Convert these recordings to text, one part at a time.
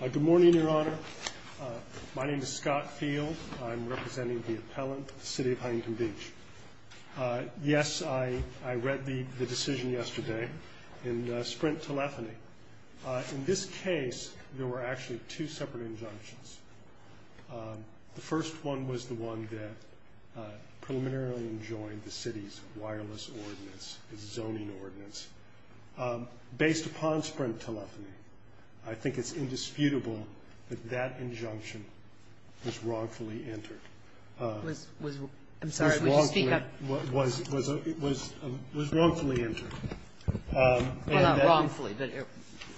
Good morning, Your Honor. My name is Scott Field. I'm representing the appellant for the City of Huntington Beach. Yes, I read the decision yesterday in Sprint Telephony. In this case, there were actually two separate injunctions. The first one was the one that preliminarily enjoined the city's wireless ordinance, its zoning ordinance. Based upon Sprint Telephony, I think it's indisputable that that injunction was wrongfully entered. I'm sorry, would you speak up? Was wrongfully entered. Well, not wrongfully, but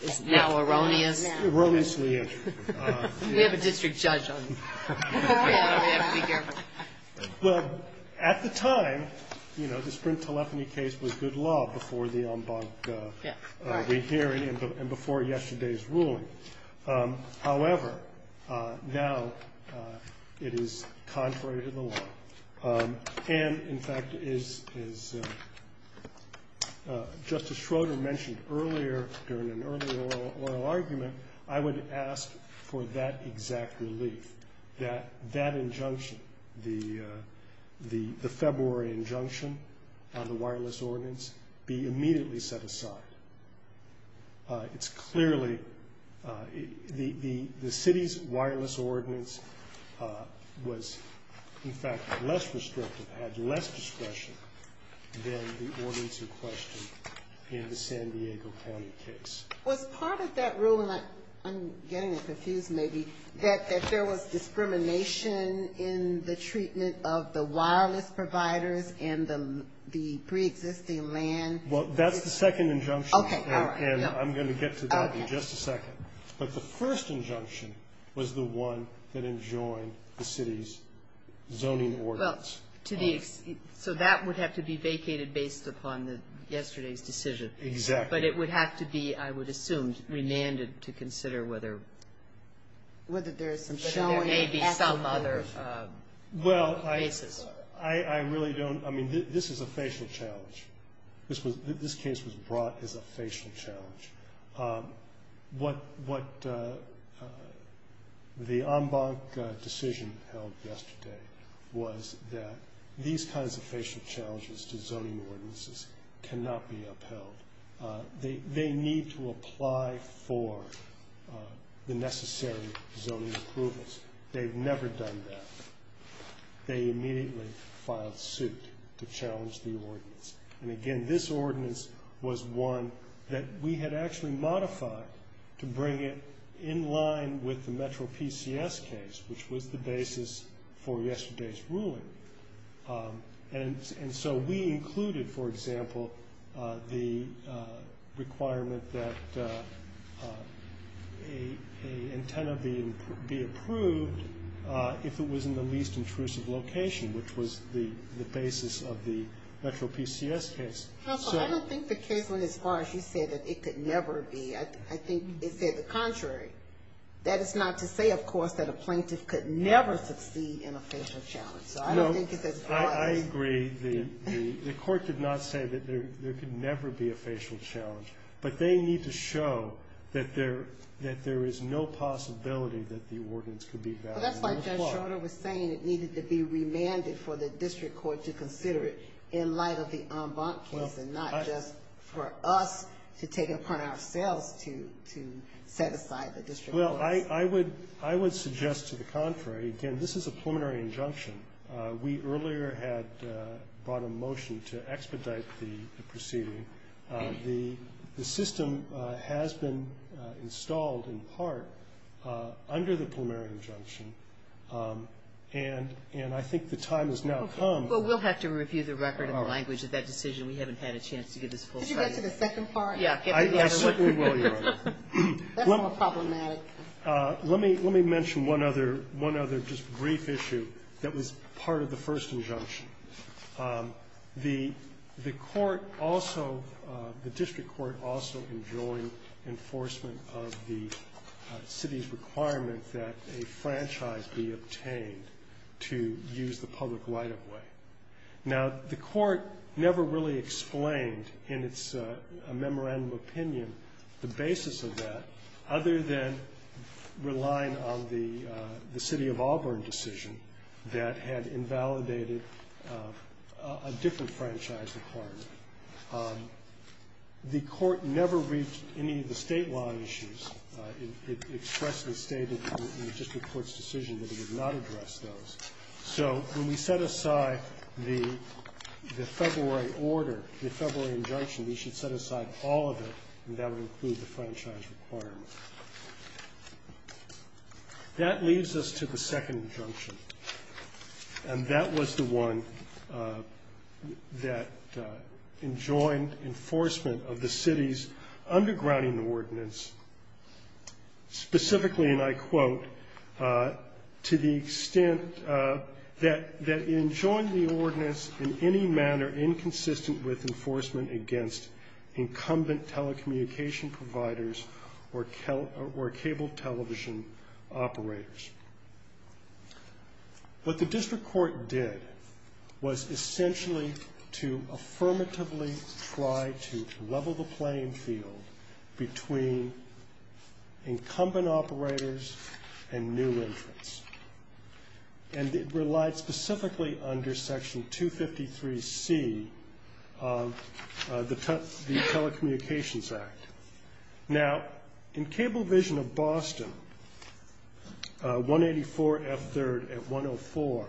it's now erroneous. Erroneously entered. We have a district judge on you. We have to be careful. Well, at the time, you know, the Sprint Telephony case was good law before the en banc rehearing and before yesterday's ruling. However, now it is contrary to the law. And, in fact, as Justice Schroeder mentioned earlier during an earlier oral argument, I would ask for that exact relief, that that injunction, the February injunction on the wireless ordinance, be immediately set aside. It's clearly, the city's wireless ordinance was, in fact, less restrictive, had less discretion than the ordinance in question in the San Diego County case. Was part of that ruling, I'm getting it confused maybe, that there was discrimination in the treatment of the wireless providers and the preexisting land? Well, that's the second injunction. Okay, all right. And I'm going to get to that in just a second. But the first injunction was the one that enjoined the city's zoning ordinance. So that would have to be vacated based upon yesterday's decision. Exactly. But it would have to be, I would assume, remanded to consider whether there may be some other basis. Well, I really don't, I mean, this is a facial challenge. This case was brought as a facial challenge. What the en banc decision held yesterday was that these kinds of facial challenges to zoning ordinances cannot be upheld. They need to apply for the necessary zoning approvals. They've never done that. They immediately filed suit to challenge the ordinance. And, again, this ordinance was one that we had actually modified to bring it in line with the Metro PCS case, which was the basis for yesterday's ruling. And so we included, for example, the requirement that an antenna be approved if it was in the least intrusive location, which was the basis of the Metro PCS case. Counsel, I don't think the case went as far as you said that it could never be. I think it said the contrary. That is not to say, of course, that a plaintiff could never succeed in a facial challenge. So I don't think it's as far as you said. I agree. The court did not say that there could never be a facial challenge. But they need to show that there is no possibility that the ordinance could be valid. Well, that's why Judge Schroeder was saying it needed to be remanded for the district court to consider it in light of the en banc case and not just for us to take it upon ourselves to set aside the district courts. Well, I would suggest to the contrary. Again, this is a preliminary injunction. We earlier had brought a motion to expedite the proceeding. The system has been installed in part under the preliminary injunction. And I think the time has now come. Well, we'll have to review the record and the language of that decision. We haven't had a chance to give this full study. Could you go to the second part? I certainly will, Your Honor. That's more problematic. Let me mention one other just brief issue that was part of the first injunction. The court also, the district court also enjoined enforcement of the city's requirement that a franchise be obtained to use the public light of way. Now, the court never really explained in its memorandum opinion the basis of that other than relying on the city of Auburn decision that had invalidated a different franchise requirement. The court never reached any of the statewide issues. It expressly stated in the district court's decision that it would not address those. So when we set aside the February order, the February injunction, we should set aside all of it and that would include the franchise requirement. That leads us to the second injunction, and that was the one that enjoined enforcement of the city's undergrounding ordinance, specifically, and I quote, to the extent that it enjoined the ordinance in any manner inconsistent with enforcement against incumbent telecommunication providers or cable television operators. What the district court did was essentially to affirmatively try to level the playing field between incumbent operators and new entrants, and it relied specifically under section 253C of the Telecommunications Act. Now, in Cablevision of Boston, 184F3rd at 104,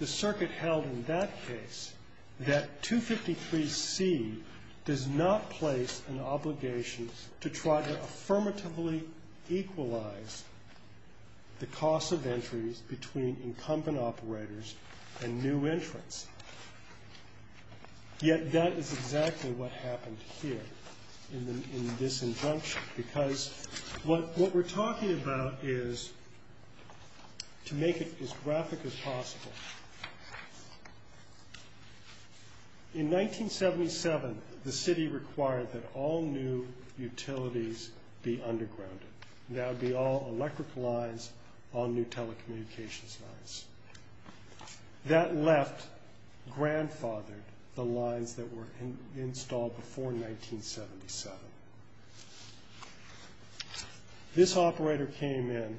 the circuit held in that case that 253C does not place an obligation to try to affirmatively equalize the cost of entries between incumbent operators and new entrants. Yet that is exactly what happened here in this injunction, because what we're talking about is to make it as graphic as possible. In 1977, the city required that all new utilities be undergrounded. That would be all electrical lines, all new telecommunications lines. That left, grandfathered the lines that were installed before 1977. This operator came in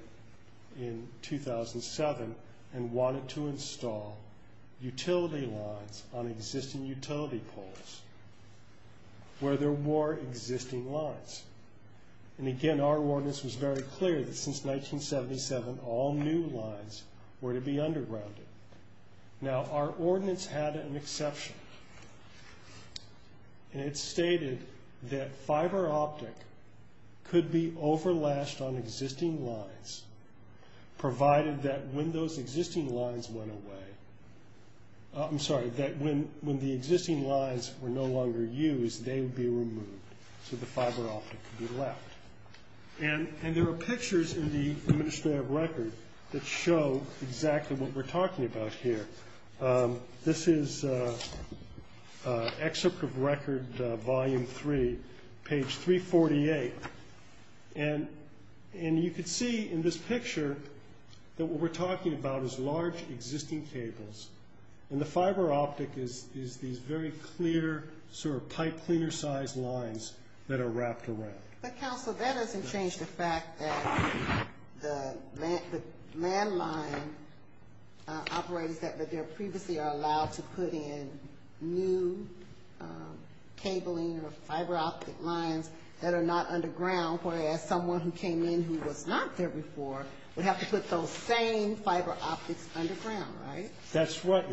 in 2007 and wanted to install utility lines on existing utility poles where there were existing lines, and again, our ordinance was very clear that since 1977, all new lines were to be undergrounded. Now, our ordinance had an exception, and it stated that fiber optic could be over-lashed on existing lines, provided that when those existing lines went away, I'm sorry, that when the existing lines were no longer used, they would be removed, so the fiber optic could be left. And there are pictures in the Administrative Record that show exactly what we're talking about here. This is Excerpt of Record Volume 3, page 348, and you can see in this picture that what we're talking about is large existing cables, and the fiber optic is these very clear sort of pipe cleaner-sized lines that are wrapped around. But, Council, that doesn't change the fact that the landline operators that were there previously are allowed to put in new cabling or fiber optic lines that are not underground, whereas someone who came in who was not there before would have to put those same fiber optics underground, right? That's right,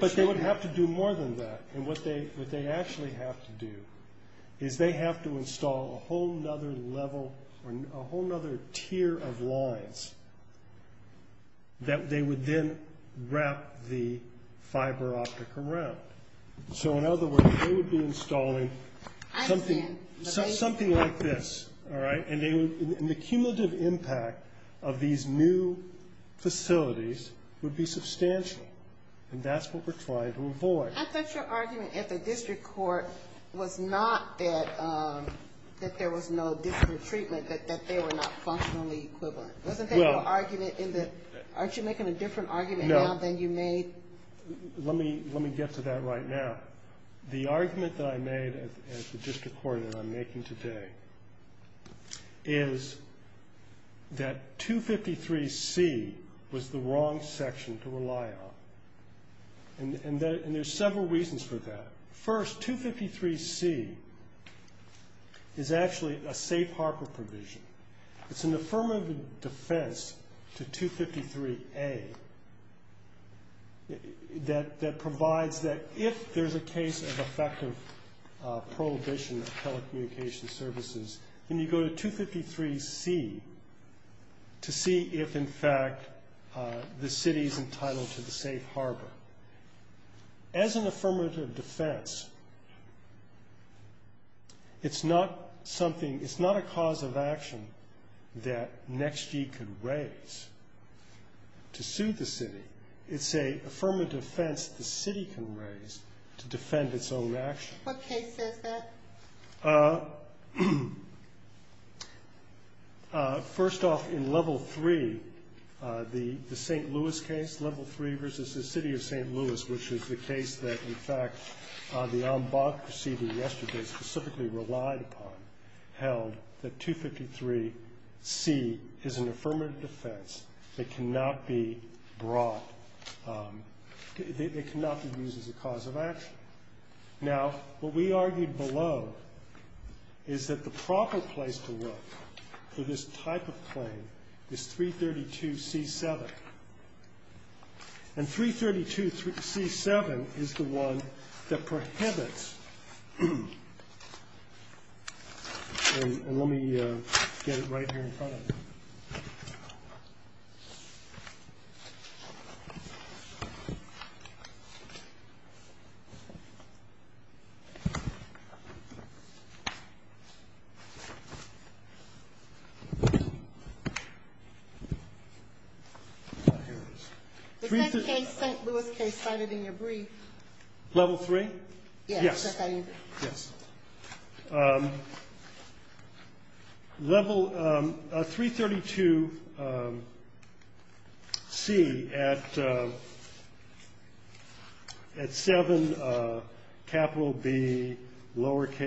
but they would have to do more than that, and what they actually have to do is they have to install a whole other level, or a whole other tier of lines that they would then wrap the fiber optic around. So, in other words, they would be installing something like this, all right, and the cumulative impact of these new facilities would be substantial, and that's what we're trying to avoid. I thought your argument at the district court was not that there was no district treatment, that they were not functionally equivalent. Wasn't there an argument in the – aren't you making a different argument now than you made? No. Let me get to that right now. The argument that I made at the district court that I'm making today is that 253C was the wrong section to rely on, and there's several reasons for that. First, 253C is actually a safe harbor provision. It's an affirmative defense to 253A that provides that if there's a case of effective prohibition of telecommunications services, then you go to 253C to see if, in fact, the city is entitled to the safe harbor. As an affirmative defense, it's not something – it's not a cause of action that NextG could raise to sue the city. It's an affirmative defense the city can raise to defend its own actions. What case says that? First off, in Level 3, the St. Louis case, Level 3 versus the city of St. Louis, which is the case that, in fact, the ombud proceeding yesterday specifically relied upon, held that 253C is an affirmative defense that cannot be brought – that cannot be used as a cause of action. Now, what we argued below is that the proper place to look for this type of claim is 332C7. And 332C7 is the one that prohibits – and let me get it right here in front of me. If that case, St. Louis case, cited in your brief. Level 3? Yes. Yes. Level – 332C at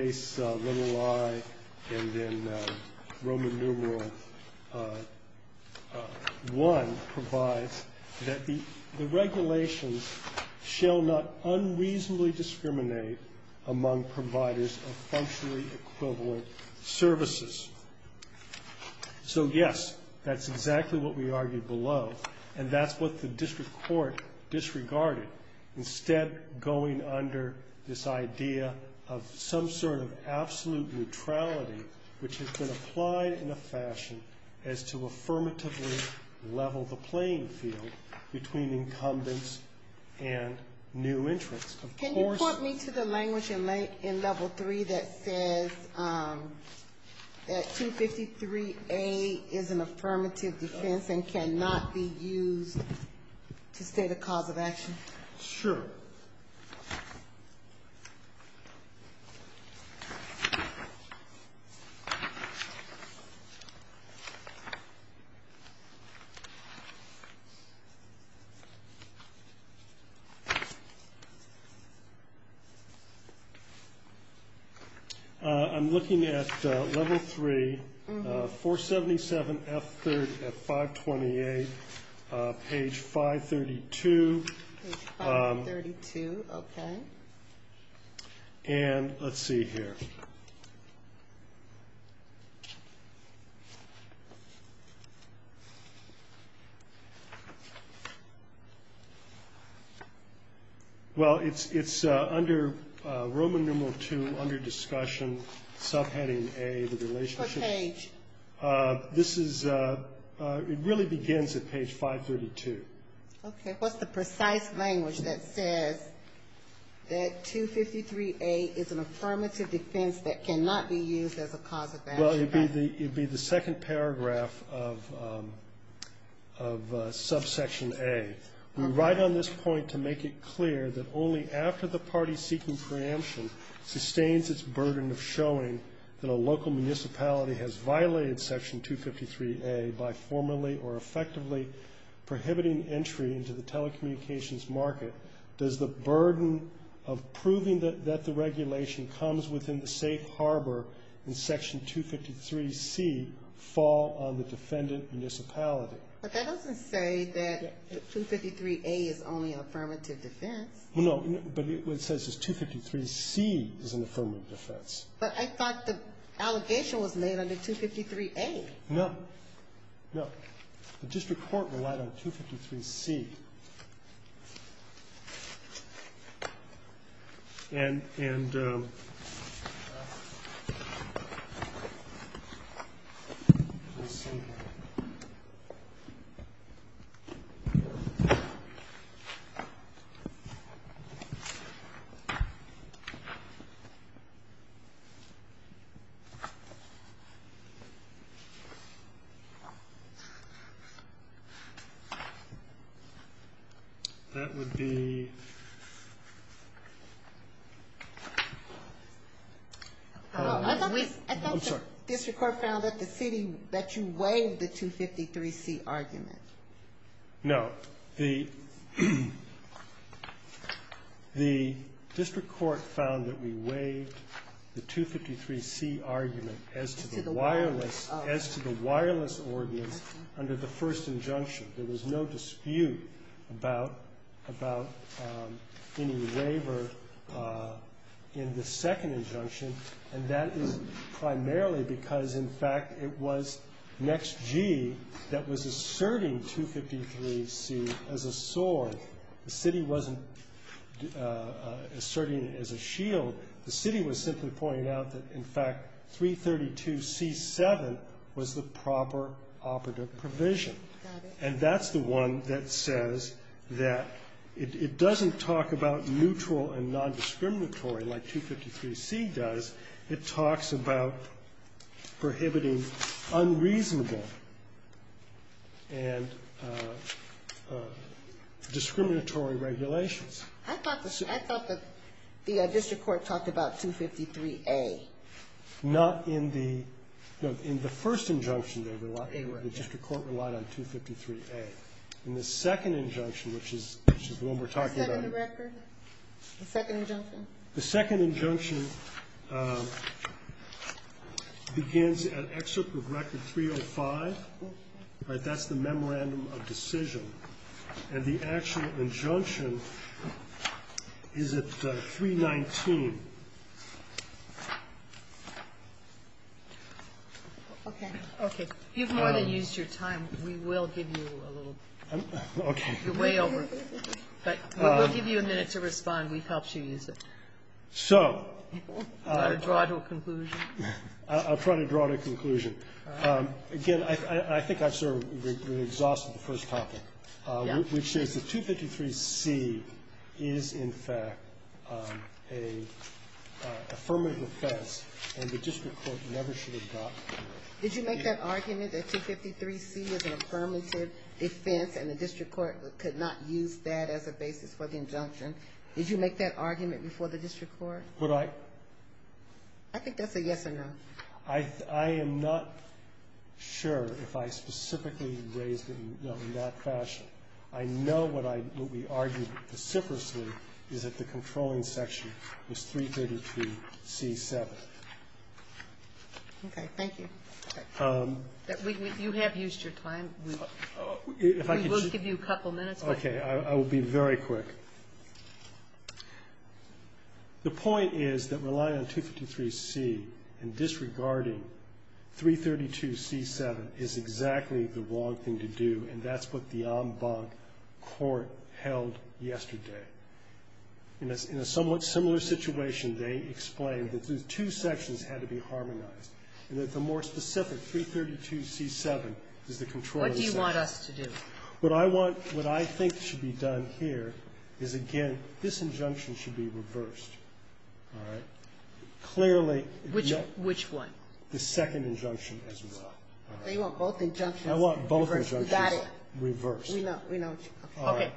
7Bi and then Roman numeral 1 provides that the regulations shall not unreasonably discriminate among providers of functionally equivalent services. So, yes, that's exactly what we argued below. And that's what the district court disregarded, instead going under this idea of some sort of absolute neutrality, which has been applied in a fashion as to affirmatively level the playing field between incumbents and new entrants. Can you point me to the language in Level 3 that says that 253A is an affirmative defense and cannot be used to state a cause of action? Sure. I'm looking at Level 3, 477F3 at 528, page 532. Page 532, okay. And let's see here. Well, it's under Roman numeral 2, under discussion, subheading A, the relationship. What page? This is – it really begins at page 532. Okay. What's the precise language that says that 253A is an affirmative defense that cannot be used as a cause of action? Well, it would be the second paragraph of subsection A. We write on this point to make it clear that only after the party seeking preemption sustains its burden of showing that a local municipality has violated Section 253A by formally or effectively prohibiting entry into the telecommunications market does the burden of proving that the regulation comes within the safe harbor in Section 253C fall on the defendant municipality. But that doesn't say that 253A is only an affirmative defense. No, but it says that 253C is an affirmative defense. But I thought the allegation was made under 253A. No. No. The district court relied on 253C. And let's see here. That would be – I thought the district court found that the city – that you waived the 253C argument. No. The district court found that we waived the 253C argument as to the wireless – as to the wireless ordinance under the first injunction. There was no dispute about – about any waiver in the second injunction. And that is primarily because, in fact, it was Next-G that was asserting 253C as a sword. The city wasn't asserting it as a shield. The city was simply pointing out that, in fact, 332C-7 was the proper operative provision. Got it. And that's the one that says that it doesn't talk about neutral and non-discriminatory like 253C does. It talks about prohibiting unreasonable and discriminatory regulations. I thought the district court talked about 253A. Not in the – no, in the first injunction, they relied – the district court relied on 253A. In the second injunction, which is the one we're talking about – The second record? The second injunction? The second injunction begins at Excerpt of Record 305, right? That's the Memorandum of Decision. And the actual injunction is at 319. Okay. Okay. You've more than used your time. We will give you a little bit. Okay. You're way over. But we'll give you a minute to respond. We've helped you use it. So. Do you want to draw to a conclusion? I'll try to draw to a conclusion. All right. Again, I think I've sort of exhausted the first topic. Yeah. Which is that 253C is, in fact, an affirmative offense, and the district court never should have gotten to it. Did you make that argument that 253C is an affirmative offense, and the district court could not use that as a basis for the injunction? Did you make that argument before the district court? Would I? I think that's a yes or no. I am not sure if I specifically raised it in that fashion. I know what we argued vociferously is that the controlling section was 332C7. Okay. Thank you. You have used your time. We will give you a couple minutes. Okay. I will be very quick. The point is that relying on 253C and disregarding 332C7 is exactly the wrong thing to do, and that's what the en banc court held yesterday. In a somewhat similar situation, they explained that the two sections had to be harmonized, and that the more specific, 332C7, is the controlling section. What do you want us to do? What I want, what I think should be done here is, again, this injunction should be reversed. All right? Clearly. Which one? The second injunction as well. You want both injunctions reversed. I want both injunctions reversed. We know. Okay.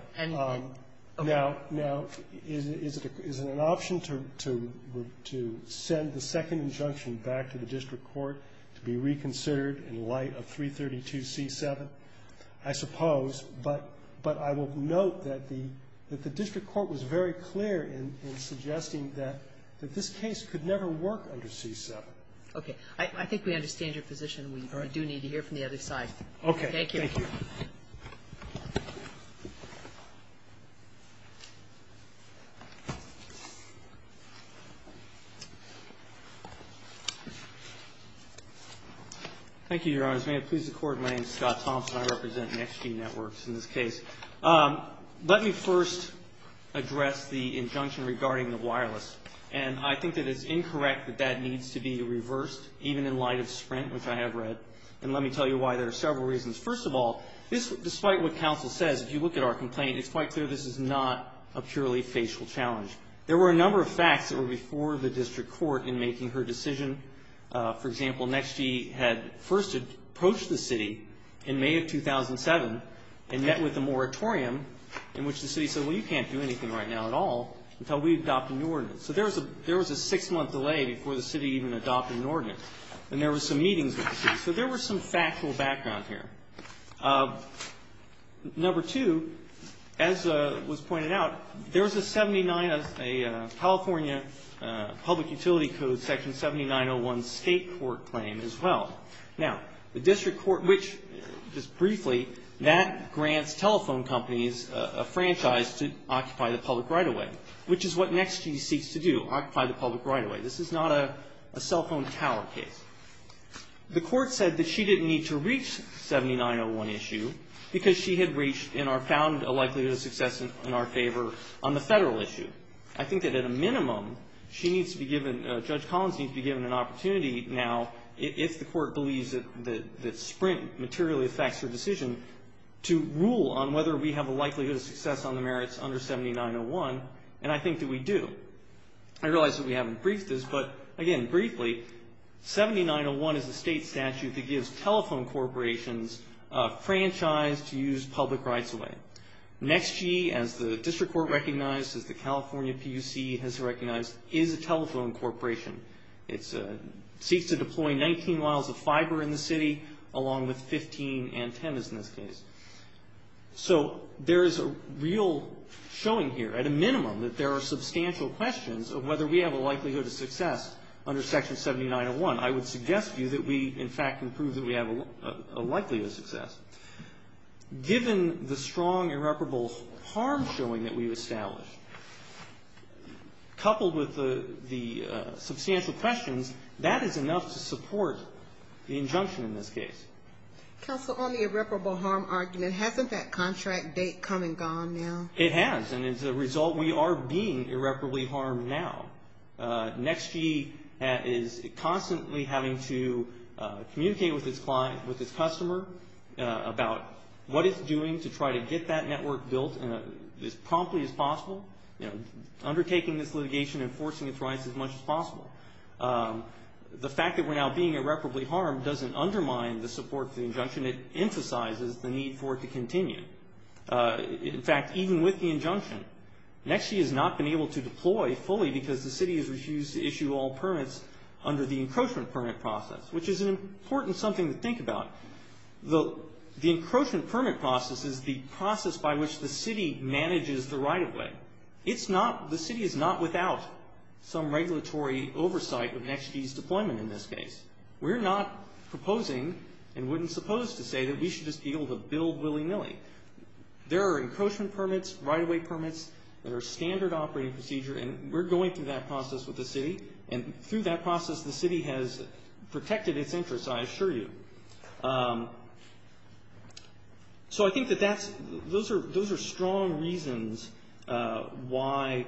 Now, is it an option to send the second injunction back to the district court to be reconsidered in light of 332C7? I suppose. But I will note that the district court was very clear in suggesting that this case could never work under C7. Okay. I think we understand your position. All right. We do need to hear from the other side. Okay. Thank you. Thank you. Thank you, Your Honors. May it please the Court, my name is Scott Thompson. I represent NextG Networks in this case. Let me first address the injunction regarding the wireless. And I think that it's incorrect that that needs to be reversed, even in light of Sprint, which I have read. And let me tell you why. There are several reasons. First of all, this, despite what counsel says, if you look at our complaint, it's quite clear this is not a purely facial challenge. There were a number of facts that were before the district court in making her decision. For example, NextG had first approached the city in May of 2007 and met with the moratorium in which the city said, well, you can't do anything right now at all until we adopt a new ordinance. So there was a six-month delay before the city even adopted an ordinance. And there were some meetings with the city. So there were some factual background here. Number two, as was pointed out, there was a California Public Utility Code section 7901 state court claim as well. Now, the district court, which, just briefly, that grants telephone companies a franchise to occupy the public right-of-way, which is what NextG seeks to do, occupy the public right-of-way. This is not a cell phone tower case. The court said that she didn't need to reach 7901 issue because she had reached and found a likelihood of success in our favor on the federal issue. I think that, at a minimum, she needs to be given, Judge Collins needs to be given an opportunity now, if the court believes that Sprint materially affects her decision, to rule on whether we have a likelihood of success on the merits under 7901. And I think that we do. I realize that we haven't briefed this, but, again, briefly, 7901 is a state statute that gives telephone corporations a franchise to use public rights-of-way. NextG, as the district court recognized, as the California PUC has recognized, is a telephone corporation. It seeks to deploy 19 miles of fiber in the city, along with 15 antennas, in this case. So there is a real showing here, at a minimum, that there are substantial questions of whether we have a likelihood of success under section 7901. I would suggest to you that we, in fact, can prove that we have a likelihood of success. Given the strong irreparable harm showing that we've established, coupled with the substantial questions, that is enough to support the injunction in this case. Counsel, on the irreparable harm argument, hasn't that contract date come and gone now? It has, and as a result, we are being irreparably harmed now. NextG is constantly having to communicate with its client, with its customer, about what it's doing to try to get that network built as promptly as possible, undertaking this litigation, enforcing its rights as much as possible. The fact that we're now being irreparably harmed doesn't undermine the support of the injunction. It emphasizes the need for it to continue. In fact, even with the injunction, NextG has not been able to deploy fully because the city has refused to issue all permits under the encroachment permit process, which is an important something to think about. The encroachment permit process is the process by which the city manages the right-of-way. The city is not without some regulatory oversight of NextG's deployment in this case. We're not proposing and wouldn't suppose to say that we should just be able to build willy-nilly. There are encroachment permits, right-of-way permits, that are standard operating procedure, and we're going through that process with the city. And through that process, the city has protected its interests, I assure you. So I think that those are strong reasons why,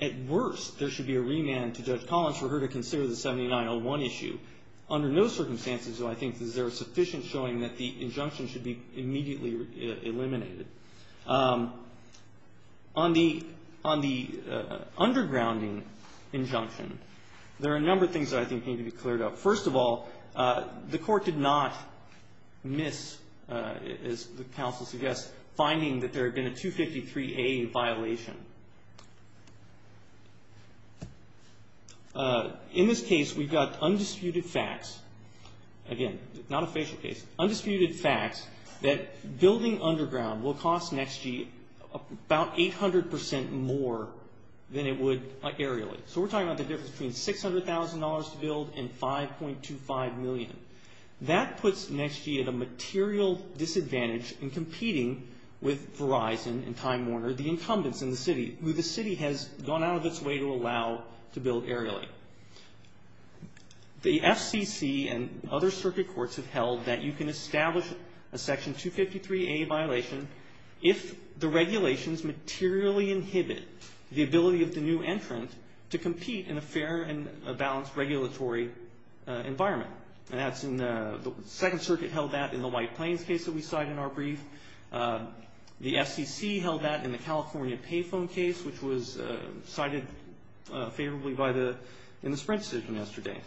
at worst, there should be a remand to Judge Collins for her to consider the 7901 issue. Under no circumstances, though, I think there is sufficient showing that the injunction should be immediately eliminated. On the undergrounding injunction, there are a number of things that I think need to be cleared up. First of all, the court did not miss, as the counsel suggests, finding that there had been a 253A violation. In this case, we've got undisputed facts. Again, not a facial case. Undisputed facts that building underground will cost NXG about 800% more than it would aerially. So we're talking about the difference between $600,000 to build and $5.25 million. That puts NXG at a material disadvantage in competing with Verizon and Time Warner, the incumbents in the city, who the city has gone out of its way to allow to build aerially. The FCC and other circuit courts have held that you can establish a Section 253A violation if the regulations materially inhibit the ability of the new entrant to compete in a fair and balanced regulatory environment. And that's in the Second Circuit held that in the White Plains case that we cited in our brief. The FCC held that in the California Payphone case, which was cited favorably in the spread decision yesterday.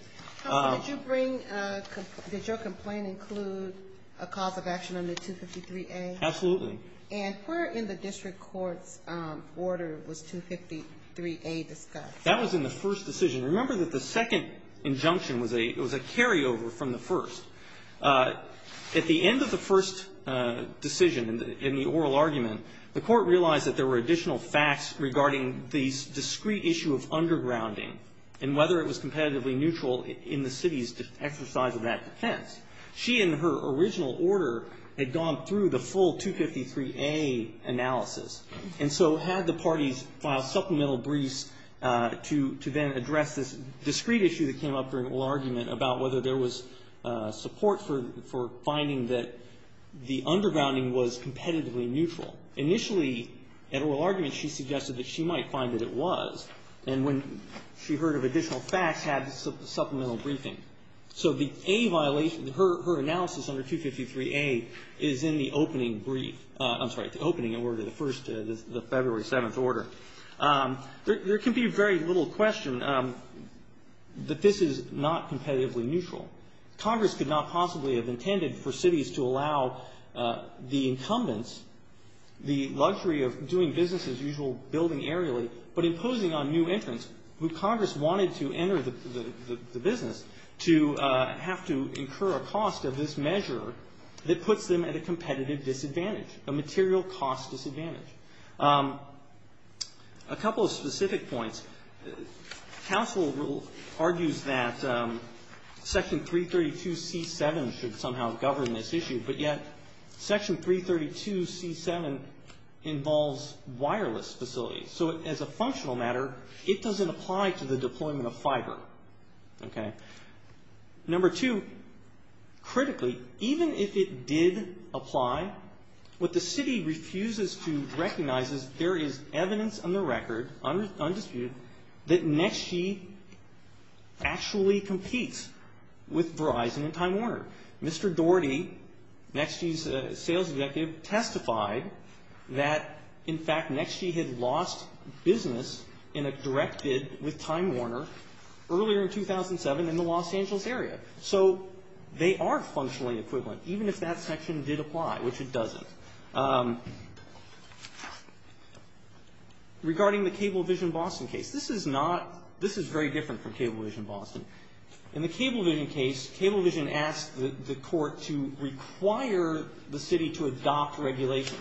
Did your complaint include a cause of action under 253A? Absolutely. And where in the district court's order was 253A discussed? That was in the first decision. Remember that the second injunction was a carryover from the first. At the end of the first decision in the oral argument, the court realized that there were additional facts regarding the discrete issue of undergrounding and whether it was competitively neutral in the city's exercise of that defense. She, in her original order, had gone through the full 253A analysis, and so had the parties file supplemental briefs to then address this discrete issue that came up during the oral argument about whether there was support for finding that the undergrounding was competitively neutral. Initially, at oral argument, she suggested that she might find that it was. And when she heard of additional facts, had supplemental briefing. So the A violation, her analysis under 253A is in the opening brief. I'm sorry, the opening order, the first, the February 7th order. There can be very little question that this is not competitively neutral. Congress could not possibly have intended for cities to allow the incumbents the luxury of doing business as usual, building aerially, but imposing on new entrants who Congress wanted to enter the business to have to incur a cost of this measure that puts them at a competitive disadvantage, a material cost disadvantage. A couple of specific points. Council argues that Section 332C7 should somehow govern this issue, but yet Section 332C7 involves wireless facilities. So as a functional matter, it doesn't apply to the deployment of fiber. Number two, critically, even if it did apply, what the city refuses to recognize is there is evidence on the record, undisputed, that NextG actually competes with Verizon and Time Warner. Mr. Doherty, NextG's sales executive, testified that, in fact, NextG had lost business in a direct bid with Time Warner earlier in 2007 in the Los Angeles area. So they are functionally equivalent, even if that section did apply, which it doesn't. Regarding the Cablevision-Boston case, this is very different from Cablevision-Boston. In the Cablevision case, Cablevision asked the court to require the city to adopt regulations.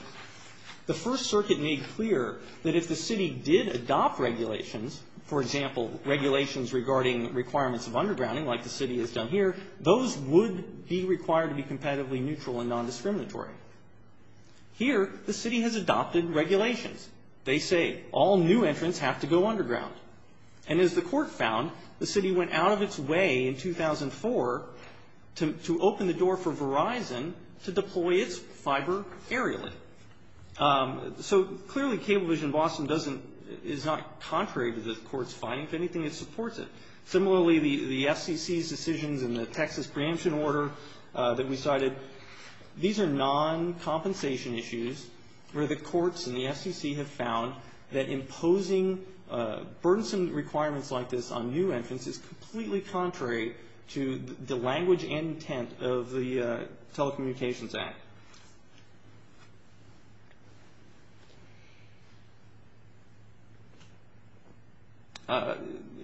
The First Circuit made clear that if the city did adopt regulations, for example, regulations regarding requirements of undergrounding like the city has done here, those would be required to be competitively neutral and nondiscriminatory. Here, the city has adopted regulations. They say all new entrants have to go underground. And as the court found, the city went out of its way in 2004 to open the door for Verizon to deploy its fiber aerially. So clearly, Cablevision-Boston is not contrary to the court's finding. If anything, it supports it. Similarly, the FCC's decisions and the Texas preemption order that we cited, these are non-compensation issues where the courts and the FCC have found that imposing burdensome requirements like this on new entrants is completely contrary to the language and intent of the Telecommunications Act.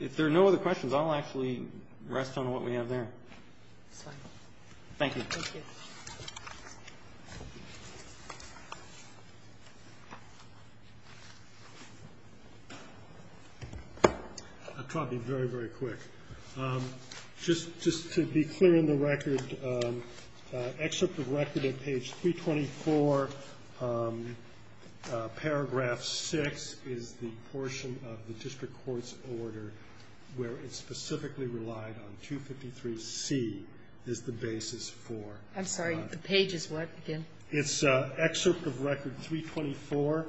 If there are no other questions, I'll actually rest on what we have there. Thank you. Thank you. I'll try to be very, very quick. Just to be clear on the record, excerpt of record at page 324, paragraph 6, is the portion of the district court's order where it's specifically relied on. 253C is the basis for. I'm sorry. The page is what again? It's excerpt of record 324.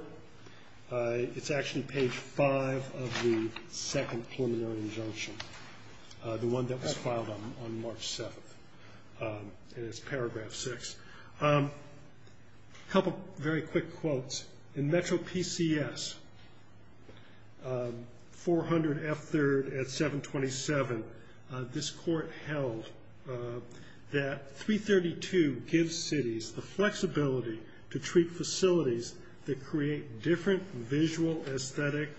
It's actually page 5 of the second preliminary injunction, the one that was filed on March 7th, and it's paragraph 6. A couple very quick quotes. In Metro PCS 400F3 at 727, this court held that 332 gives cities the flexibility to treat facilities that create different visual, aesthetic,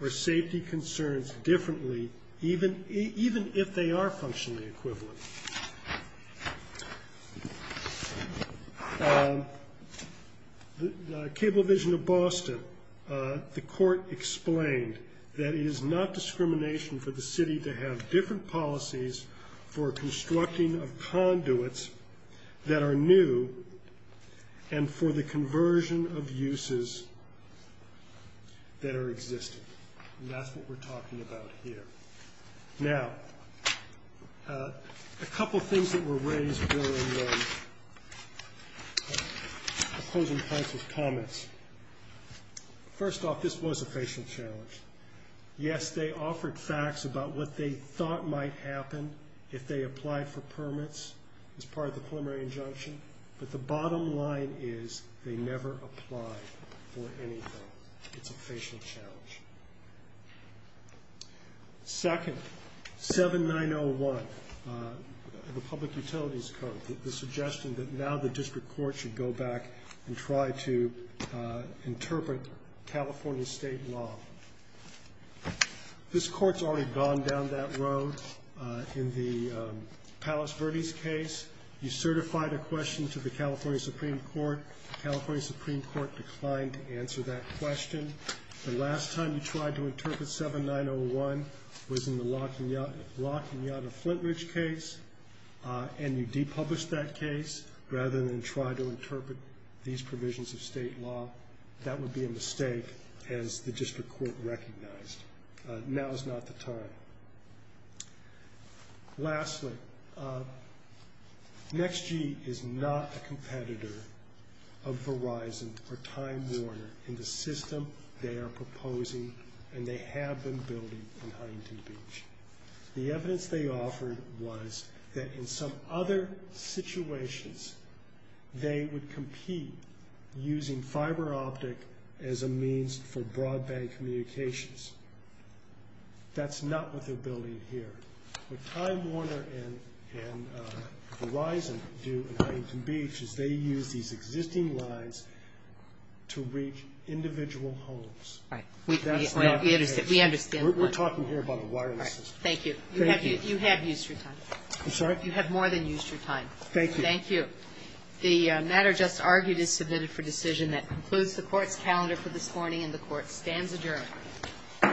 or safety concerns differently even if they are functionally equivalent. The Cablevision of Boston, the court explained that it is not discrimination for the city to have different policies for constructing of conduits that are new and for the conversion of uses that are existing, and that's what we're talking about here. Now, a couple things that were raised during the opposing points of comments. First off, this was a facial challenge. Yes, they offered facts about what they thought might happen if they applied for permits as part of the preliminary injunction, but the bottom line is they never applied for anything. It's a facial challenge. Second, 7901, the Public Utilities Code, the suggestion that now the district court should go back and try to interpret California state law. This court's already gone down that road. In the Palos Verdes case, you certified a question to the California Supreme Court. The California Supreme Court declined to answer that question. The last time you tried to interpret 7901 was in the La Cunada Flintridge case, and you depublished that case rather than try to interpret these provisions of state law. That would be a mistake, as the district court recognized. Now is not the time. Lastly, NEXT-G is not a competitor of Verizon or Time Warner in the system they are proposing, and they have been building in Huntington Beach. The evidence they offered was that in some other situations, they would compete using fiber optic as a means for broadband communications. That's not what they're building here. What Time Warner and Verizon do in Huntington Beach is they use these existing lines to reach individual homes. That's not the case. We understand. We're talking here about a wireless system. Thank you. You have used your time. I'm sorry? You have more than used your time. Thank you. Thank you. The matter just argued is submitted for decision. That concludes the Court's calendar for this morning, and the Court stands adjourned. All rise. This court is adjourned.